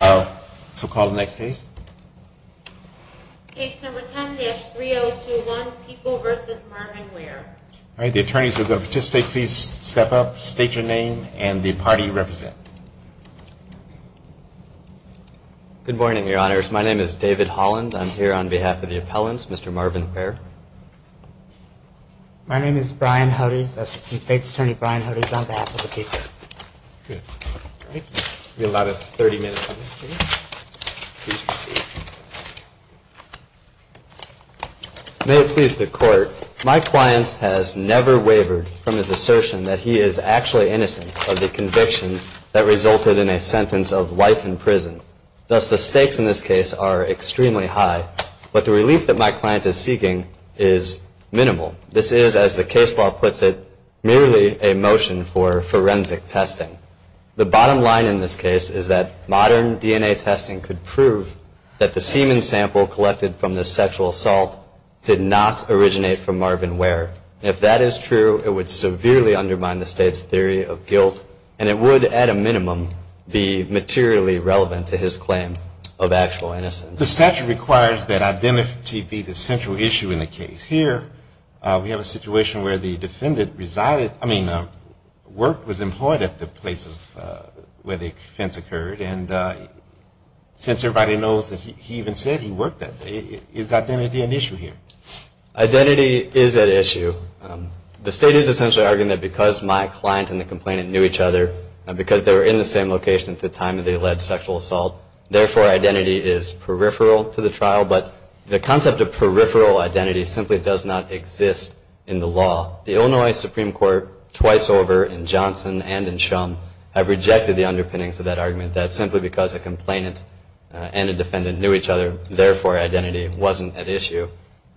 So call the next case. Case number 10-3021, People v. Marvin Ware. All right, the attorneys who are going to participate, please step up, state your name, and the party you represent. Good morning, your honors. My name is David Holland. I'm here on behalf of the appellants, Mr. Marvin Ware. My name is Brian Hodes. That's the state's attorney, Brian Hodes, on behalf of the people. Good. All right. We have about 30 minutes on this case. Please proceed. May it please the court, my client has never wavered from his assertion that he is actually innocent of the conviction that resulted in a sentence of life in prison. Thus, the stakes in this case are extremely high, but the relief that my client is seeking is minimal. This is, as the case law puts it, merely a motion for forensic testing. The bottom line in this case is that modern DNA testing could prove that the semen sample collected from this sexual assault did not originate from Marvin Ware. If that is true, it would severely undermine the state's theory of guilt, and it would, at a minimum, be materially relevant to his claim of actual innocence. The statute requires that identity be the central issue in the case. Here, we have a situation where the defendant resided, I mean, worked, was employed at the place where the offense occurred, and since everybody knows that he even said he worked that day, is identity an issue here? Identity is at issue. The state is essentially arguing that because my client and the complainant knew each other, because they were in the same location at the time of the alleged sexual assault, therefore identity is peripheral to the trial, but the concept of peripheral identity simply does not exist in the law. The Illinois Supreme Court, twice over in Johnson and in Shum, have rejected the underpinnings of that argument, that simply because a complainant and a defendant knew each other, therefore identity wasn't at issue.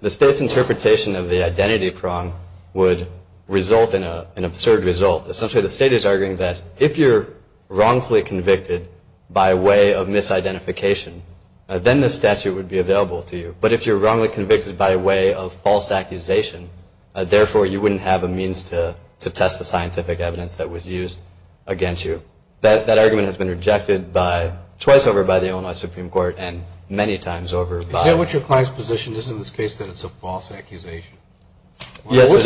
The state's interpretation of the identity prong would result in an absurd result. Essentially, the state is arguing that if you're wrongfully convicted by way of misidentification, then the statute would be available to you, but if you're wrongly convicted by way of false accusation, therefore you wouldn't have a means to test the scientific evidence that was used against you. That argument has been rejected twice over by the Illinois Supreme Court and many times over by... What's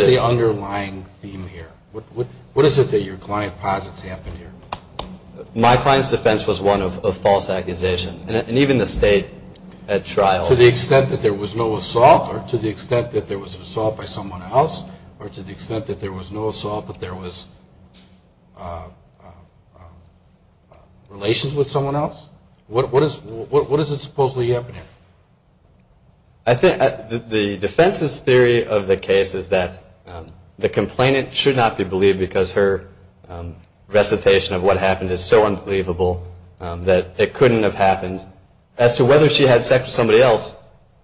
the underlying theme here? What is it that your client posits happened here? My client's defense was one of false accusation, and even the state at trial... To the extent that there was no assault, or to the extent that there was assault by someone else, or to the extent that there was no assault but there was relations with someone else? What is it supposedly happening? I think the defense's theory of the case is that the complainant should not be believed because her recitation of what happened is so unbelievable that it couldn't have happened. As to whether she had sex with somebody else,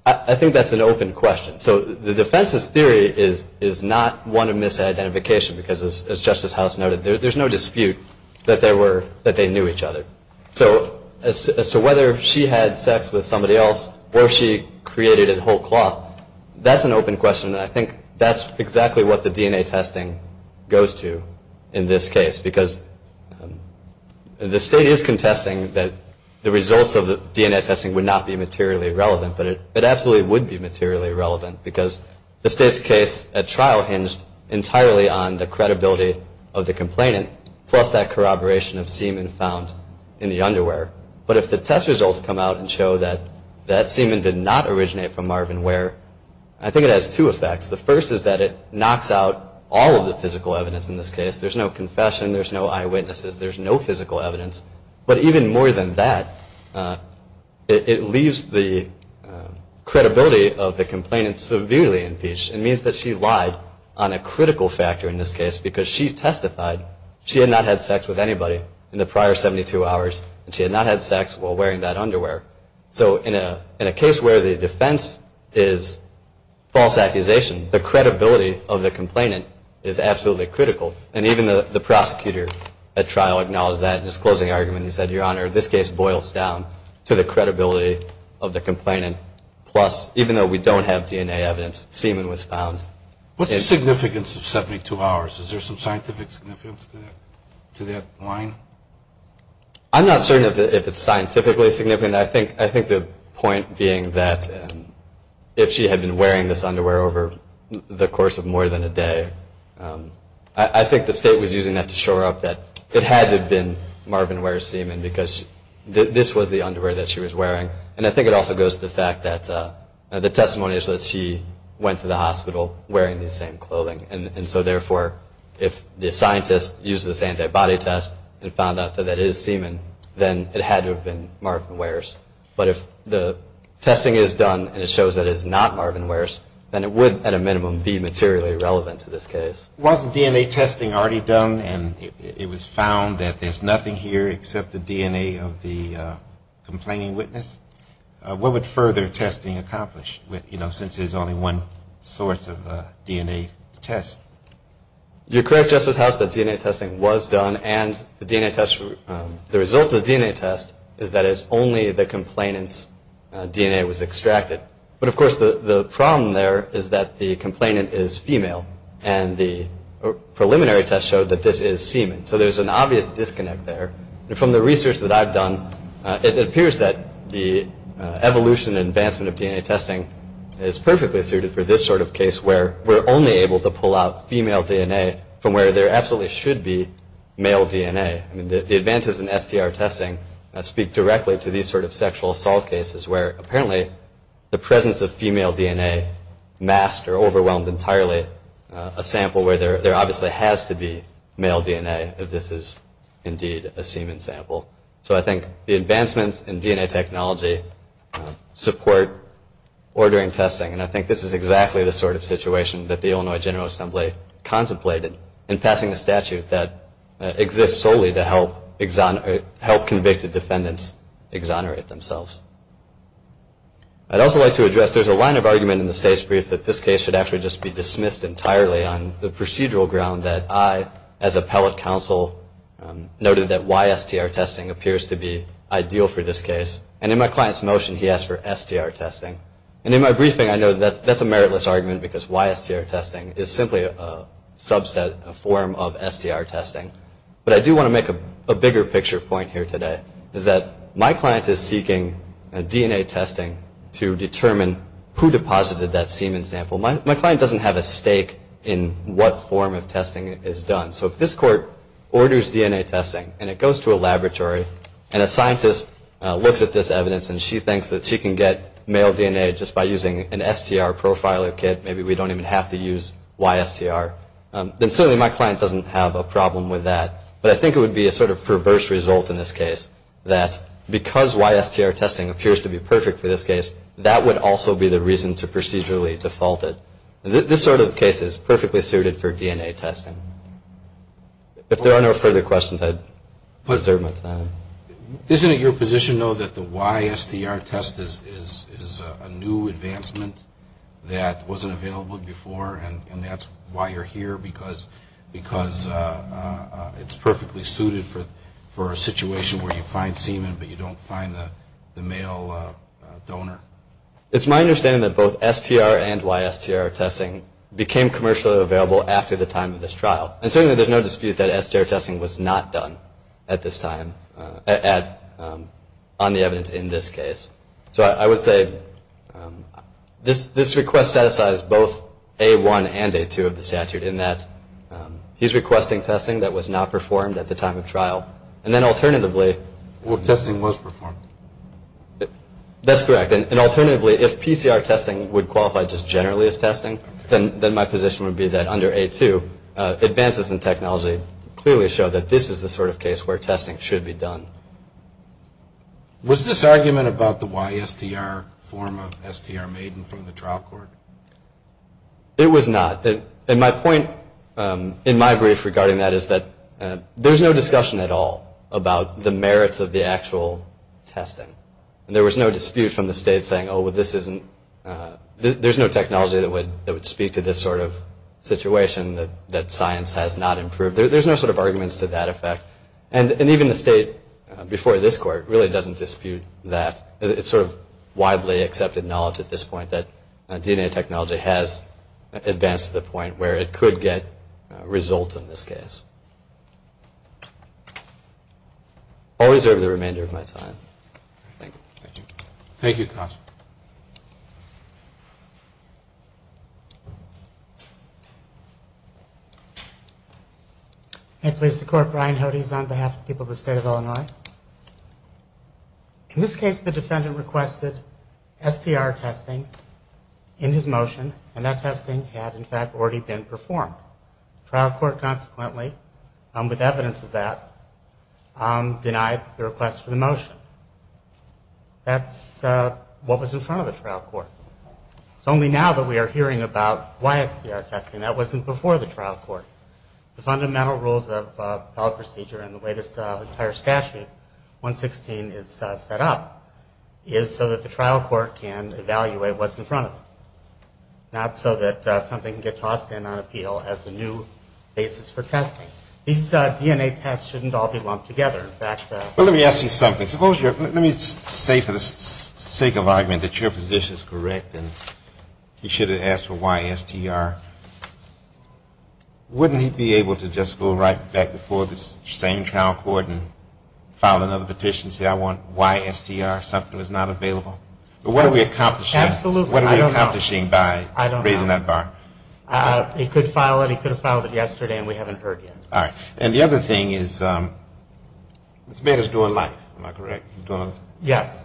I think that's an open question. So the defense's theory is not one of misidentification because, as Justice House noted, there's no dispute that they knew each other. So as to whether she had sex with somebody else or she created it whole cloth, that's an open question, and I think that's exactly what the DNA testing goes to in this case because the state is contesting that the results of the DNA testing would not be materially relevant, but it absolutely would be materially relevant because the state's case at trial hinged entirely on the credibility of the complainant plus that corroboration of semen found in the underwear. But if the test results come out and show that that semen did not originate from Marvin Ware, I think it has two effects. The first is that it knocks out all of the physical evidence in this case. There's no confession. There's no eyewitnesses. There's no physical evidence. But even more than that, it leaves the credibility of the complainant severely impeached. It means that she lied on a critical factor in this case because she testified she had not had sex with anybody in the prior 72 hours, and she had not had sex while wearing that underwear. So in a case where the defense is false accusation, the credibility of the complainant is absolutely critical, and even the prosecutor at trial acknowledged that in his closing argument. He said, Your Honor, this case boils down to the credibility of the complainant plus, even though we don't have DNA evidence, semen was found. What's the significance of 72 hours? Is there some scientific significance to that line? I'm not certain if it's scientifically significant. I think the point being that if she had been wearing this underwear over the course of more than a day, I think the state was using that to shore up that it had to have been Marvin Ware's semen because this was the underwear that she was wearing. And I think it also goes to the fact that the testimony is that she went to the hospital wearing the same clothing. And so, therefore, if the scientist used this antibody test and found out that that is semen, then it had to have been Marvin Ware's. But if the testing is done and it shows that it is not Marvin Ware's, then it would, at a minimum, be materially relevant to this case. Was the DNA testing already done and it was found that there's nothing here except the DNA of the complaining witness? What would further testing accomplish, you know, since there's only one source of DNA test? You're correct, Justice House, that DNA testing was done and the DNA test, the result of the DNA test is that it's only the complainant's DNA was extracted. But, of course, the problem there is that the complainant is female and the preliminary test showed that this is semen. So there's an obvious disconnect there. And from the research that I've done, it appears that the evolution and advancement of DNA testing is perfectly suited for this sort of case where we're only able to pull out female DNA from where there absolutely should be male DNA. I mean, the advances in SDR testing speak directly to these sort of sexual assault cases where apparently the presence of female DNA masked or overwhelmed entirely a sample where there obviously has to be male DNA if this is indeed a semen sample. So I think the advancements in DNA technology support ordering testing. And I think this is exactly the sort of situation that the Illinois General Assembly contemplated in passing a statute that exists solely to help convicted defendants exonerate themselves. I'd also like to address there's a line of argument in the state's brief that this case should actually just be dismissed entirely on the procedural ground that I, as appellate counsel, noted that YSTR testing appears to be ideal for this case. And in my client's motion, he asked for STR testing. And in my briefing, I know that's a meritless argument because YSTR testing is simply a subset, a form of STR testing. But I do want to make a bigger picture point here today, is that my client is seeking DNA testing to determine who deposited that semen sample. My client doesn't have a stake in what form of testing is done. So if this court orders DNA testing and it goes to a laboratory and a scientist looks at this evidence and she thinks that she can get male DNA just by using an STR profiler kit, maybe we don't even have to use YSTR, then certainly my client doesn't have a problem with that. But I think it would be a sort of perverse result in this case, that because YSTR testing appears to be perfect for this case, that would also be the reason to procedurally default it. This sort of case is perfectly suited for DNA testing. If there are no further questions, I'd reserve my time. Isn't it your position, though, that the YSTR test is a new advancement that wasn't available before and that's why you're here, because it's perfectly suited for a situation where you find semen but you don't find the male donor? It's my understanding that both STR and YSTR testing became commercially available after the time of this trial. And certainly there's no dispute that STR testing was not done at this time, on the evidence in this case. So I would say this request satisfies both A1 and A2 of the statute, in that he's requesting testing that was not performed at the time of trial. And then alternatively... Well, testing was performed. That's correct. Then my position would be that under A2, advances in technology clearly show that this is the sort of case where testing should be done. Was this argument about the YSTR form of STR made from the trial court? It was not. And my point in my brief regarding that is that there's no discussion at all about the merits of the actual testing. And there was no dispute from the state saying, oh, well, this isn't... there's no technology that would speak to this sort of situation, that science has not improved. There's no sort of arguments to that effect. And even the state before this court really doesn't dispute that. It's sort of widely accepted knowledge at this point that DNA technology has advanced to the point where it could get results in this case. I'll reserve the remainder of my time. Thank you. Thank you. Thank you, counsel. May it please the Court, Brian Hodes on behalf of the people of the State of Illinois. In this case, the defendant requested STR testing in his motion, and that testing had, in fact, already been performed. The trial court, consequently, with evidence of that, denied the request for the motion. That's what was in front of the trial court. It's only now that we are hearing about YSTR testing. That wasn't before the trial court. The fundamental rules of appellate procedure and the way this entire statute, 116, is set up, is so that the trial court can evaluate what's in front of it, not so that something can get tossed in on appeal as a new basis for testing. These DNA tests shouldn't all be lumped together. Well, let me ask you something. Suppose you're, let me say for the sake of argument that your position is correct and you should have asked for YSTR. Wouldn't he be able to just go right back before the same trial court and file another petition and say, I want YSTR, something that's not available? But what are we accomplishing? Absolutely. What are we accomplishing by raising that bar? I don't know. He could file it. He could have filed it yesterday and we haven't heard yet. All right. And the other thing is this man is doing life. Am I correct? Yes.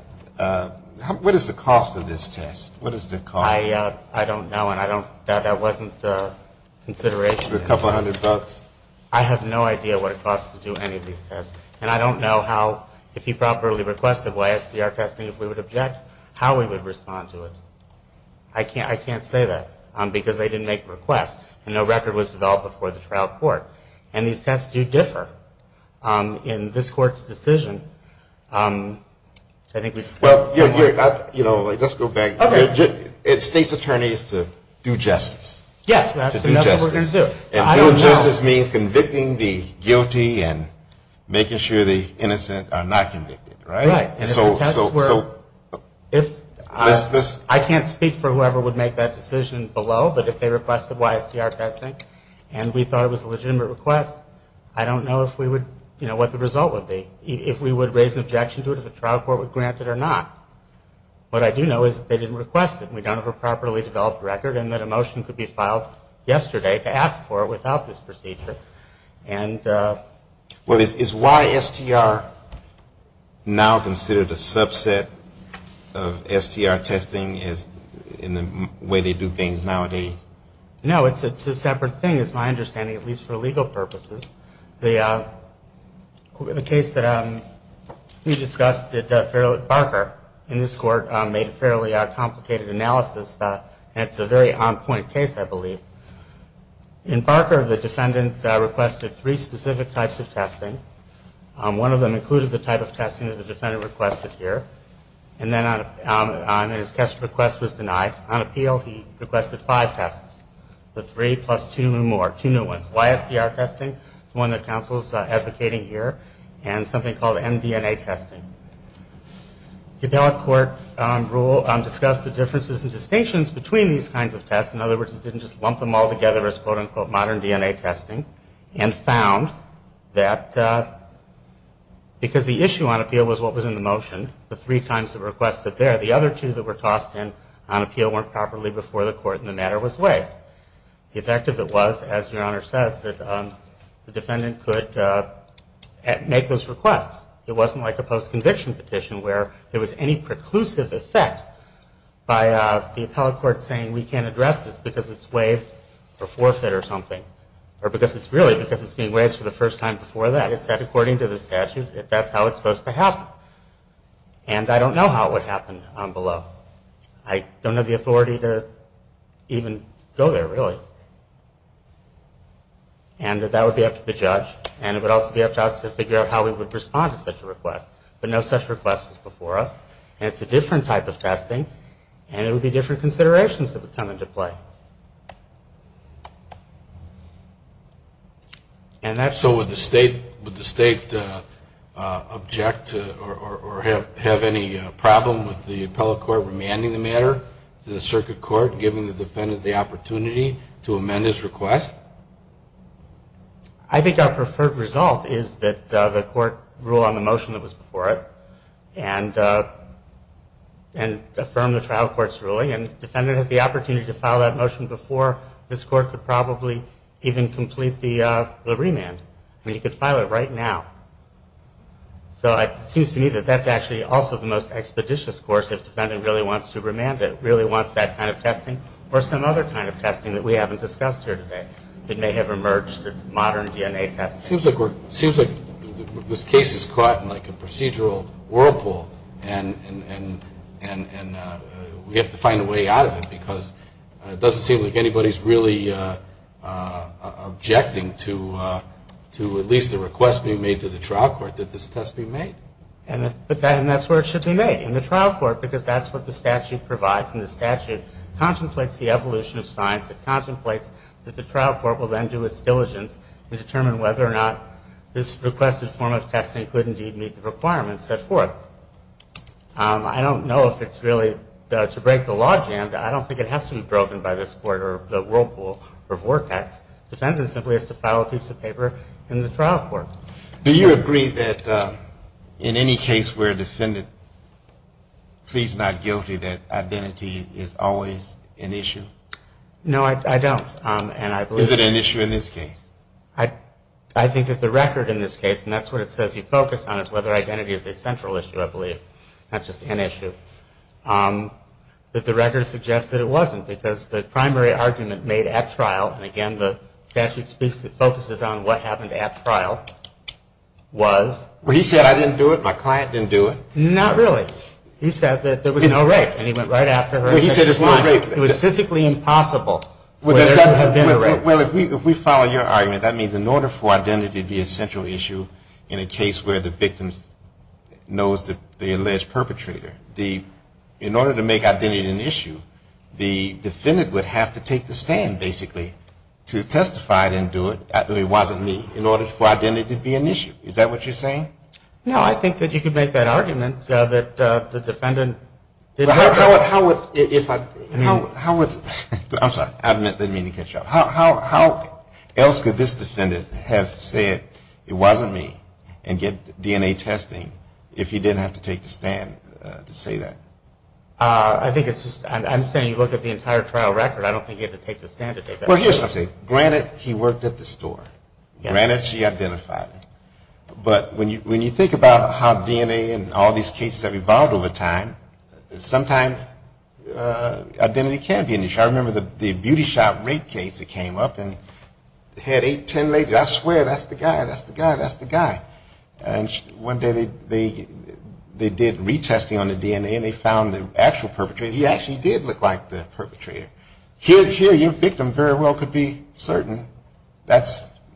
What is the cost of this test? What is the cost? I don't know. And I don't, that wasn't consideration. A couple hundred bucks? I have no idea what it costs to do any of these tests. And I don't know how, if he properly requested YSTR testing, if we would object, how we would respond to it. I can't say that because they didn't make the request and no record was developed before the trial court. And these tests do differ in this court's decision. I think we discussed this before. Let's go back. State's attorney is to do justice. Yes. That's what we're going to do. And do justice means convicting the guilty and making sure the innocent are not convicted, right? Right. These tests were, if, I can't speak for whoever would make that decision below, but if they requested YSTR testing and we thought it was a legitimate request, I don't know if we would, you know, what the result would be. If we would raise an objection to it, if the trial court would grant it or not. What I do know is that they didn't request it. We don't have a properly developed record and that a motion could be filed yesterday to ask for it without this procedure. Well, is YSTR now considered a subset of STR testing in the way they do things nowadays? No. It's a separate thing, is my understanding, at least for legal purposes. The case that we discussed, Barker, in this court, made a fairly complicated analysis. It's a very on-point case, I believe. In Barker, the defendant requested three specific types of testing. One of them included the type of testing that the defendant requested here. And then on his test request was denied. On appeal, he requested five tests, the three plus two and more, two new ones. YSTR testing, the one that counsel is advocating here, and something called MDNA testing. The appellate court rule discussed the differences and distinctions between these kinds of tests. In other words, it didn't just lump them all together as, quote, unquote, modern DNA testing. And found that because the issue on appeal was what was in the motion, the three times it requested there, the other two that were tossed in on appeal weren't properly before the court and the matter was waived. The effect of it was, as your Honor says, that the defendant could make those requests. It wasn't like a post-conviction petition where there was any preclusive effect by the appellate court saying we can't address this because it's waived or forfeit or something. Or because it's really, because it's being waived for the first time before that. It said according to the statute that that's how it's supposed to happen. And I don't know how it would happen below. I don't have the authority to even go there, really. And that would be up to the judge. And it would also be up to us to figure out how we would respond to such a request. But no such request was before us. And it's a different type of testing. And it would be different considerations that would come into play. So would the State object or have any problem with the appellate court remanding the matter to the circuit court, giving the defendant the opportunity to amend his request? I think our preferred result is that the court rule on the motion that was before it and affirm the trial court's ruling. And the defendant has the opportunity to file that motion before this court could probably even complete the remand. I mean, he could file it right now. So it seems to me that that's actually also the most expeditious course if the defendant really wants to remand it, really wants that kind of testing or some other kind of testing that we haven't discussed here today that may have emerged that's modern DNA testing. It seems like this case is caught in like a procedural whirlpool. And we have to find a way out of it because it doesn't seem like anybody's really objecting to at least a request being made to the trial court that this test be made. And that's where it should be made, in the trial court, because that's what the statute provides. And the statute contemplates the evolution of science. It contemplates that the trial court will then do its diligence and determine whether or not this requested form of testing could indeed meet the requirements set forth. I don't know if it's really to break the law jammed. I don't think it has to be broken by this court or the whirlpool of work acts. The defendant simply has to file a piece of paper in the trial court. Do you agree that in any case where a defendant pleads not guilty that identity is always an issue? No, I don't. Is it an issue in this case? I think that the record in this case, and that's what it says you focus on, is whether identity is a central issue, I believe, not just an issue. But the record suggests that it wasn't because the primary argument made at trial, and again the statute focuses on what happened at trial, was. Well, he said I didn't do it, my client didn't do it. Not really. He said that there was no rape, and he went right after her. Well, he said it's not rape. It was physically impossible for there to have been a rape. Well, if we follow your argument, that means in order for identity to be a central issue in a case where the victim knows the alleged perpetrator, in order to make identity an issue, the defendant would have to take the stand, basically, to testify and do it. It wasn't me. In order for identity to be an issue. Is that what you're saying? I'm sorry, I didn't mean to cut you off. How else could this defendant have said it wasn't me and get DNA testing if he didn't have to take the stand to say that? I think it's just, I'm saying look at the entire trial record. I don't think he had to take the stand to say that. Well, here's what I'm saying. Granted, he worked at the store. Granted, she identified him. But when you think about how DNA and all these cases have evolved over time, sometimes identity can be an issue. I remember the beauty shop rape case that came up and had eight, ten ladies. I swear, that's the guy, that's the guy, that's the guy. And one day they did retesting on the DNA and they found the actual perpetrator. He actually did look like the perpetrator.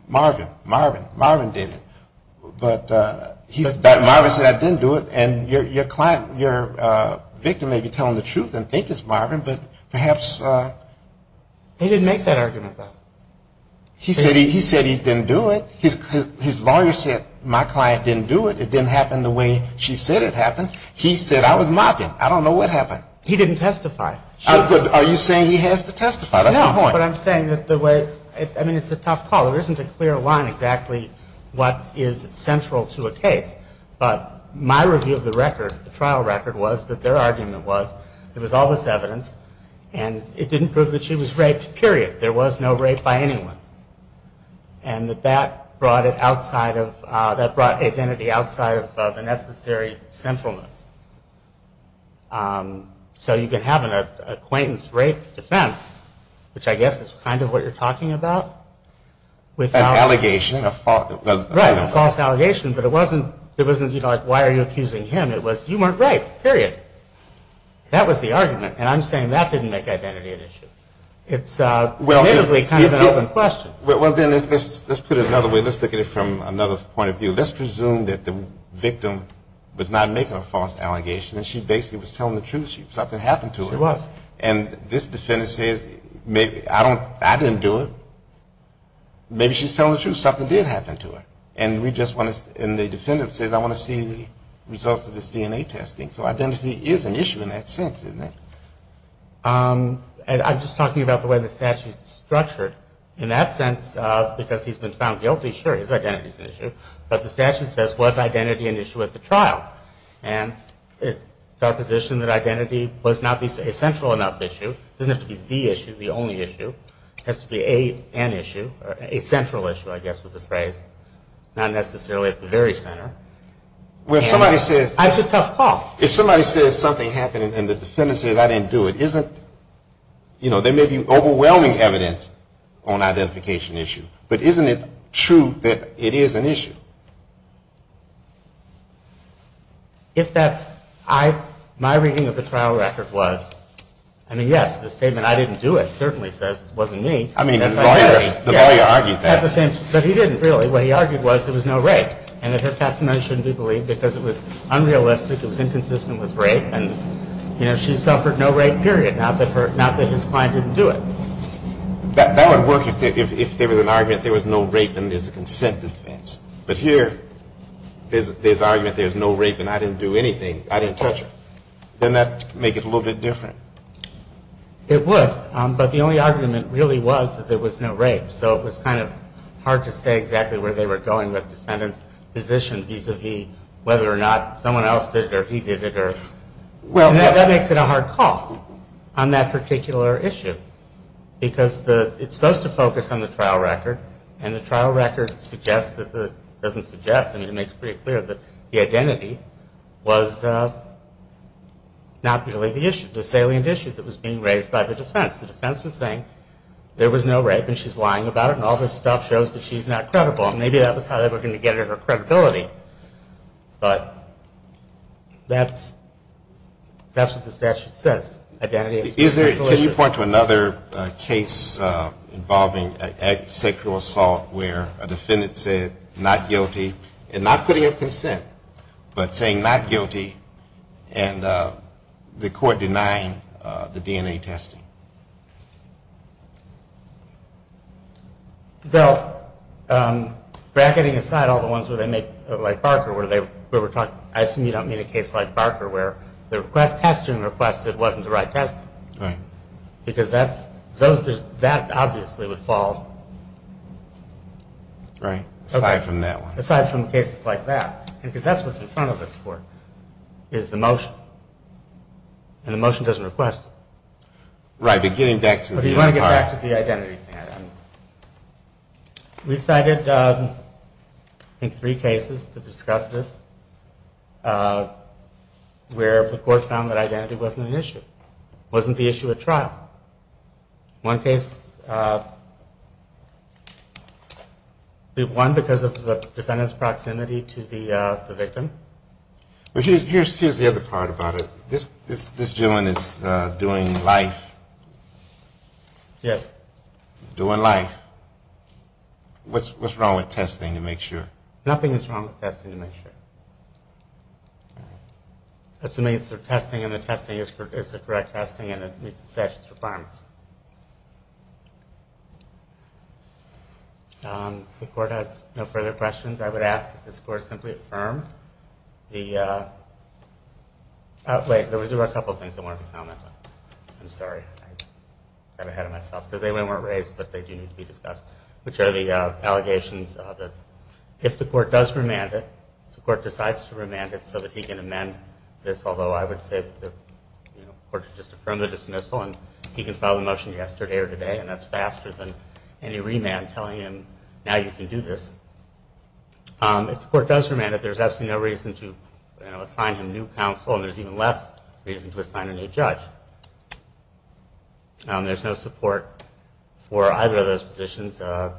Marvin, Marvin, Marvin did it. But Marvin said, I didn't do it. And your victim may be telling the truth and think it's Marvin, but perhaps. He didn't make that argument, though. He said he didn't do it. His lawyer said, my client didn't do it. It didn't happen the way she said it happened. He said, I was mocking him. I don't know what happened. He didn't testify. Are you saying he has to testify? That's my point. No, but I'm saying that the way, I mean, it's a tough call. There isn't a clear line exactly what is central to a case. But my review of the record, the trial record, was that their argument was there was all this evidence. And it didn't prove that she was raped, period. There was no rape by anyone. And that that brought it outside of, that brought identity outside of the necessary sinfulness. So you can have an acquaintance rape defense, which I guess is kind of what you're talking about. An allegation. Right, a false allegation. But it wasn't, you know, like, why are you accusing him? It was, you weren't rape, period. That was the argument. And I'm saying that didn't make identity an issue. It's relatively kind of an open question. Well, then, let's put it another way. Let's look at it from another point of view. Let's presume that the victim was not making a false allegation, and she basically was telling the truth. Something happened to her. She was. And this defendant says, I didn't do it. Maybe she's telling the truth. Something did happen to her. And we just want to, and the defendant says, I want to see the results of this DNA testing. So identity is an issue in that sense, isn't it? I'm just talking about the way the statute is structured. In that sense, because he's been found guilty, sure, his identity is an issue. But the statute says, was identity an issue at the trial? And it's our position that identity was not a central enough issue. It doesn't have to be the issue, the only issue. It has to be an issue, a central issue, I guess was the phrase. Not necessarily at the very center. Well, if somebody says. That's a tough call. If somebody says something happened, and the defendant says, I didn't do it, isn't, you know, there may be overwhelming evidence on identification issue. But isn't it true that it is an issue? If that's, my reading of the trial record was, I mean, yes, the statement, I didn't do it, certainly says it wasn't me. I mean, the lawyer argued that. But he didn't really. What he argued was there was no rape. And that her testimony shouldn't be believed because it was unrealistic. It was inconsistent with rape. And, you know, she suffered no rape, period, not that his client didn't do it. That would work if there was an argument there was no rape and there's a consent defense. But here there's an argument there's no rape and I didn't do anything, I didn't touch her. Then that would make it a little bit different. It would. But the only argument really was that there was no rape. So it was kind of hard to say exactly where they were going with the defendant's position vis-a-vis whether or not someone else did it or whether, and that makes it a hard call on that particular issue. Because it's supposed to focus on the trial record. And the trial record suggests, doesn't suggest, I mean, it makes it pretty clear that the identity was not really the issue, the salient issue that was being raised by the defense. The defense was saying there was no rape and she's lying about it. And all this stuff shows that she's not credible. And maybe that was how they were going to get her credibility. But that's what the statute says. Can you point to another case involving sexual assault where a defendant said not guilty, and not putting up consent, but saying not guilty, and the court denying the DNA testing? No. Bracketing aside, all the ones where they make, like Barker, where they, where we're talking, I assume you don't mean a case like Barker where the request, testing request, it wasn't the right testing. Right. Because that's, those, that obviously would fall. Right. Aside from that one. Aside from cases like that. Because that's what's in front of us for, is the motion. And the motion doesn't request it. Right, but getting back to the other part. But you want to get back to the identity thing. We cited, I think, three cases to discuss this where the court found that identity wasn't an issue. Wasn't the issue at trial. One case, one because of the defendant's proximity to the victim. Here's the other part about it. This gentleman is doing life. Yes. Doing life. What's wrong with testing to make sure? Nothing is wrong with testing to make sure. Assuming it's the testing, and the testing is the correct testing, and it meets the statute's requirements. If the court has no further questions, I would ask that this court simply affirm the, wait, there were a couple of things I wanted to comment on. I'm sorry. I got ahead of myself. Because they weren't raised, but they do need to be discussed. Which are the allegations of the, if the court does remand it, if the court decides to remand it so that he can amend this, although I would say that the court should just affirm the dismissal, and he can file the motion yesterday or today, and that's faster than any remand telling him, now you can do this. If the court does remand it, there's absolutely no reason to assign him new counsel, and there's even less reason to assign a new judge. There's no support for either of those positions. The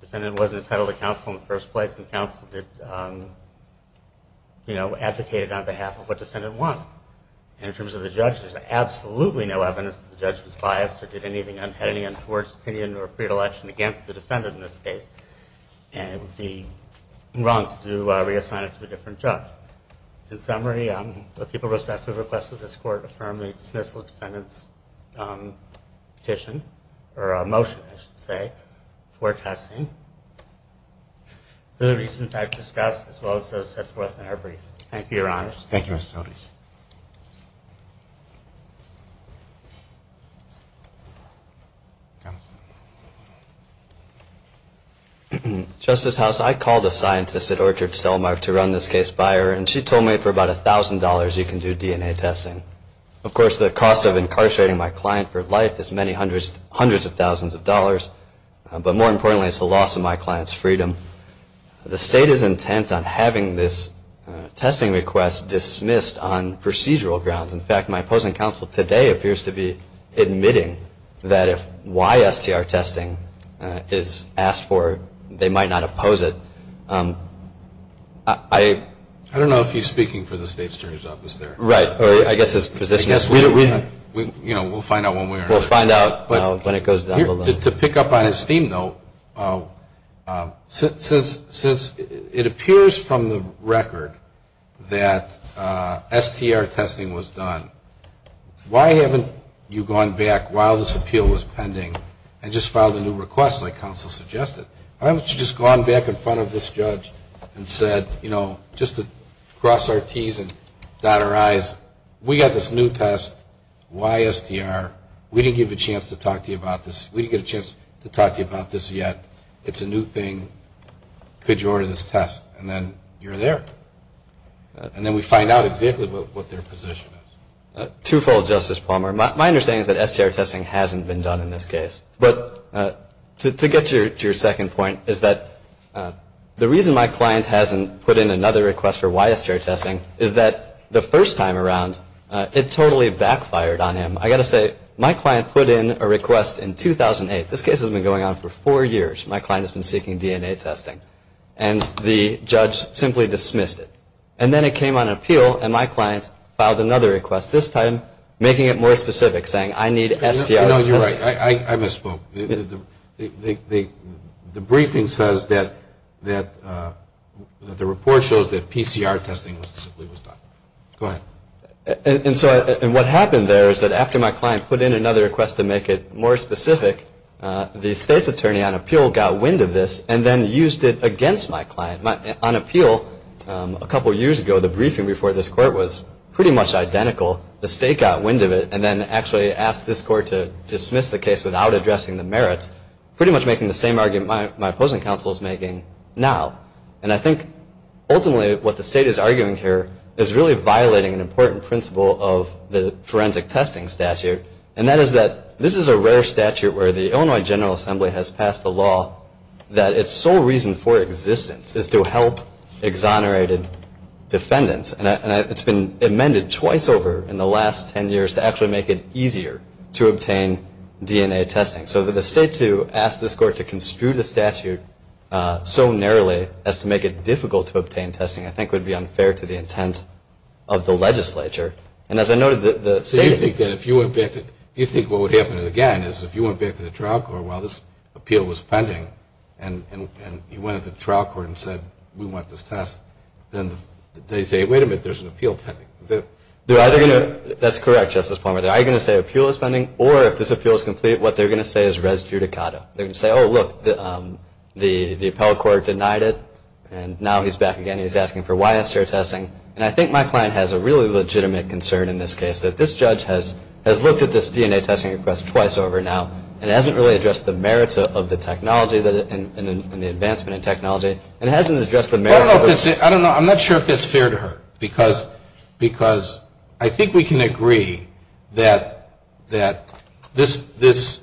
defendant wasn't entitled to counsel in the first place, and counsel did, you know, advocated on behalf of what the defendant wanted. And in terms of the judge, there's absolutely no evidence that the judge was biased or did anything unheading towards opinion or predilection against the defendant in this case, and it would be wrong to reassign it to a different judge. In summary, the people respectfully request that this court affirm the dismissal of the defendant's petition, or motion, I should say, forecasting. Other reasons I've discussed, as well as those set forth in our brief. Thank you, Your Honor. Thank you, Mr. Otis. Justice House, I called a scientist at Orchard Cellmark to run this case by her, and she told me for about $1,000 you can do DNA testing. Of course, the cost of incarcerating my client for life is many hundreds of thousands of dollars, but more importantly, it's the loss of my client's freedom. The state is intent on having this testing request dismissed on procedural grounds. In fact, my opposing counsel today appears to be admitting that if YSTR testing is asked for, they might not oppose it. I don't know if he's speaking for the state's jury's office there. Right. I guess his position is we'll find out one way or another. We'll find out when it goes down the line. To pick up on his theme, though, since it appears from the record that STR testing was done, why haven't you gone back while this appeal was pending and just filed a new request like counsel suggested? Why haven't you just gone back in front of this judge and said, you know, just to cross our T's and dot our I's, we got this new test, YSTR, we didn't give you a chance to talk to you about this, we didn't get a chance to talk to you about this yet, it's a new thing, could you order this test? And then you're there. And then we find out exactly what their position is. Twofold, Justice Palmer. My understanding is that STR testing hasn't been done in this case. But to get to your second point is that the reason my client hasn't put in another request for YSTR testing is that the first time around it totally backfired on him. I've got to say, my client put in a request in 2008. This case has been going on for four years. My client has been seeking DNA testing. And the judge simply dismissed it. And then it came on appeal and my client filed another request, this time making it more specific, saying I need STR testing. No, you're right. I misspoke. The briefing says that the report shows that PCR testing was done. Go ahead. And so what happened there is that after my client put in another request to make it more specific, the state's attorney on appeal got wind of this and then used it against my client. On appeal, a couple years ago, the briefing before this court was pretty much identical. The state got wind of it and then actually asked this court to dismiss the case without addressing the merits, pretty much making the same argument my opposing counsel is making now. And I think ultimately what the state is arguing here is really violating an important principle of the forensic testing statute, and that is that this is a rare statute where the Illinois General Assembly has passed a law that its sole reason for existence is to help exonerated defendants. And it's been amended twice over in the last ten years to actually make it easier to obtain DNA testing. So for the state to ask this court to construe the statute so narrowly as to make it difficult to obtain testing, I think would be unfair to the intent of the legislature. And as I noted, the state... So you think that if you went back to... You think what would happen again is if you went back to the trial court while this appeal was pending and you went to the trial court and said, we want this test, then they say, wait a minute, there's an appeal pending. They're either going to... That's correct, Justice Palmer. They're either going to say appeal is pending, or if this appeal is complete, what they're going to say is res judicata. They're going to say, oh, look, the appellate court denied it, and now he's back again. He's asking for why it's fair testing. And I think my client has a really legitimate concern in this case, that this judge has looked at this DNA testing request twice over now and hasn't really addressed the merits of the technology and the advancement in technology, and hasn't addressed the merits of... Because I think we can agree that this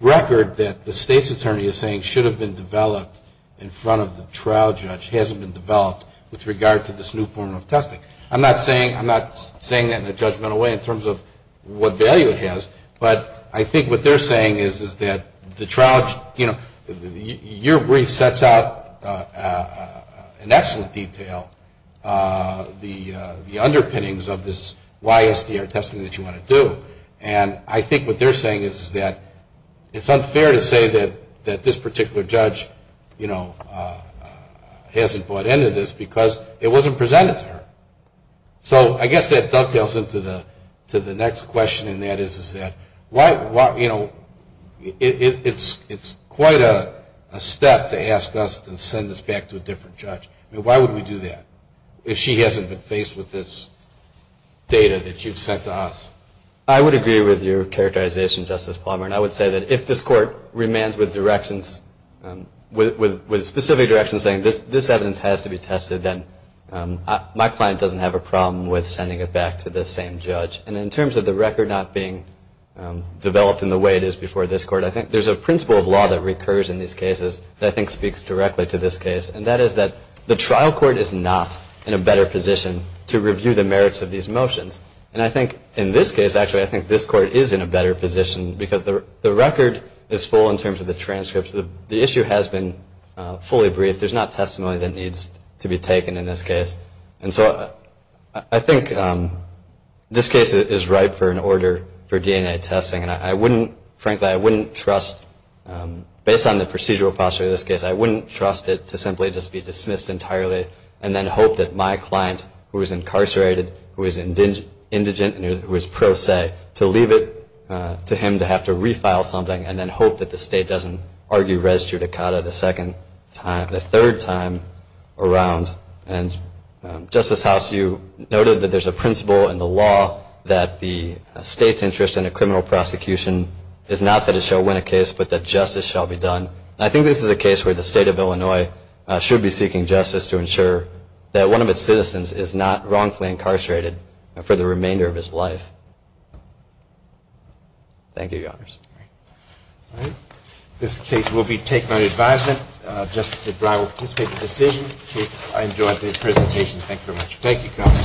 record that the state's attorney is saying should have been developed in front of the trial judge hasn't been developed with regard to this new form of testing. I'm not saying that in a judgmental way in terms of what value it has, but I think what they're saying is that the trial... Your brief sets out in excellent detail the underpinnings of this YSDR testing that you want to do, and I think what they're saying is that it's unfair to say that this particular judge hasn't bought into this because it wasn't presented to her. So I guess that dovetails into the next question, and that is that it's quite a step to ask us to send this back to a different judge. Why would we do that if she hasn't been faced with this data that you've sent to us? I would agree with your characterization, Justice Palmer, and I would say that if this court remains with specific directions saying this evidence has to be tested, then my client doesn't have a problem with sending it back to the same judge. And in terms of the record not being developed in the way it is before this court, I think there's a principle of law that recurs in these cases that I think speaks directly to this case, and that is that the trial court is not in a better position to review the merits of these motions. And I think in this case, actually, I think this court is in a better position because the record is full in terms of the transcripts. The issue has been fully briefed. There's not testimony that needs to be taken in this case. And so I think this case is ripe for an order for DNA testing, and I wouldn't, frankly, I wouldn't trust, based on the procedural posture of this case, I wouldn't trust it to simply just be dismissed entirely and then hope that my client, who is incarcerated, who is indigent and who is pro se, to leave it to him to have to refile something and then hope that the state doesn't argue res judicata the second time, the third time around And Justice House, you noted that there's a principle in the law that the state's interest in a criminal prosecution is not that it shall win a case, but that justice shall be done. And I think this is a case where the state of Illinois should be seeking justice to ensure that one of its citizens is not wrongfully incarcerated for the remainder of his life. Thank you, Your Honors. All right. This case will be taken under advisement. Justice O'Brien will participate in the decision. I enjoyed the presentation. Thank you very much. Thank you, counsel.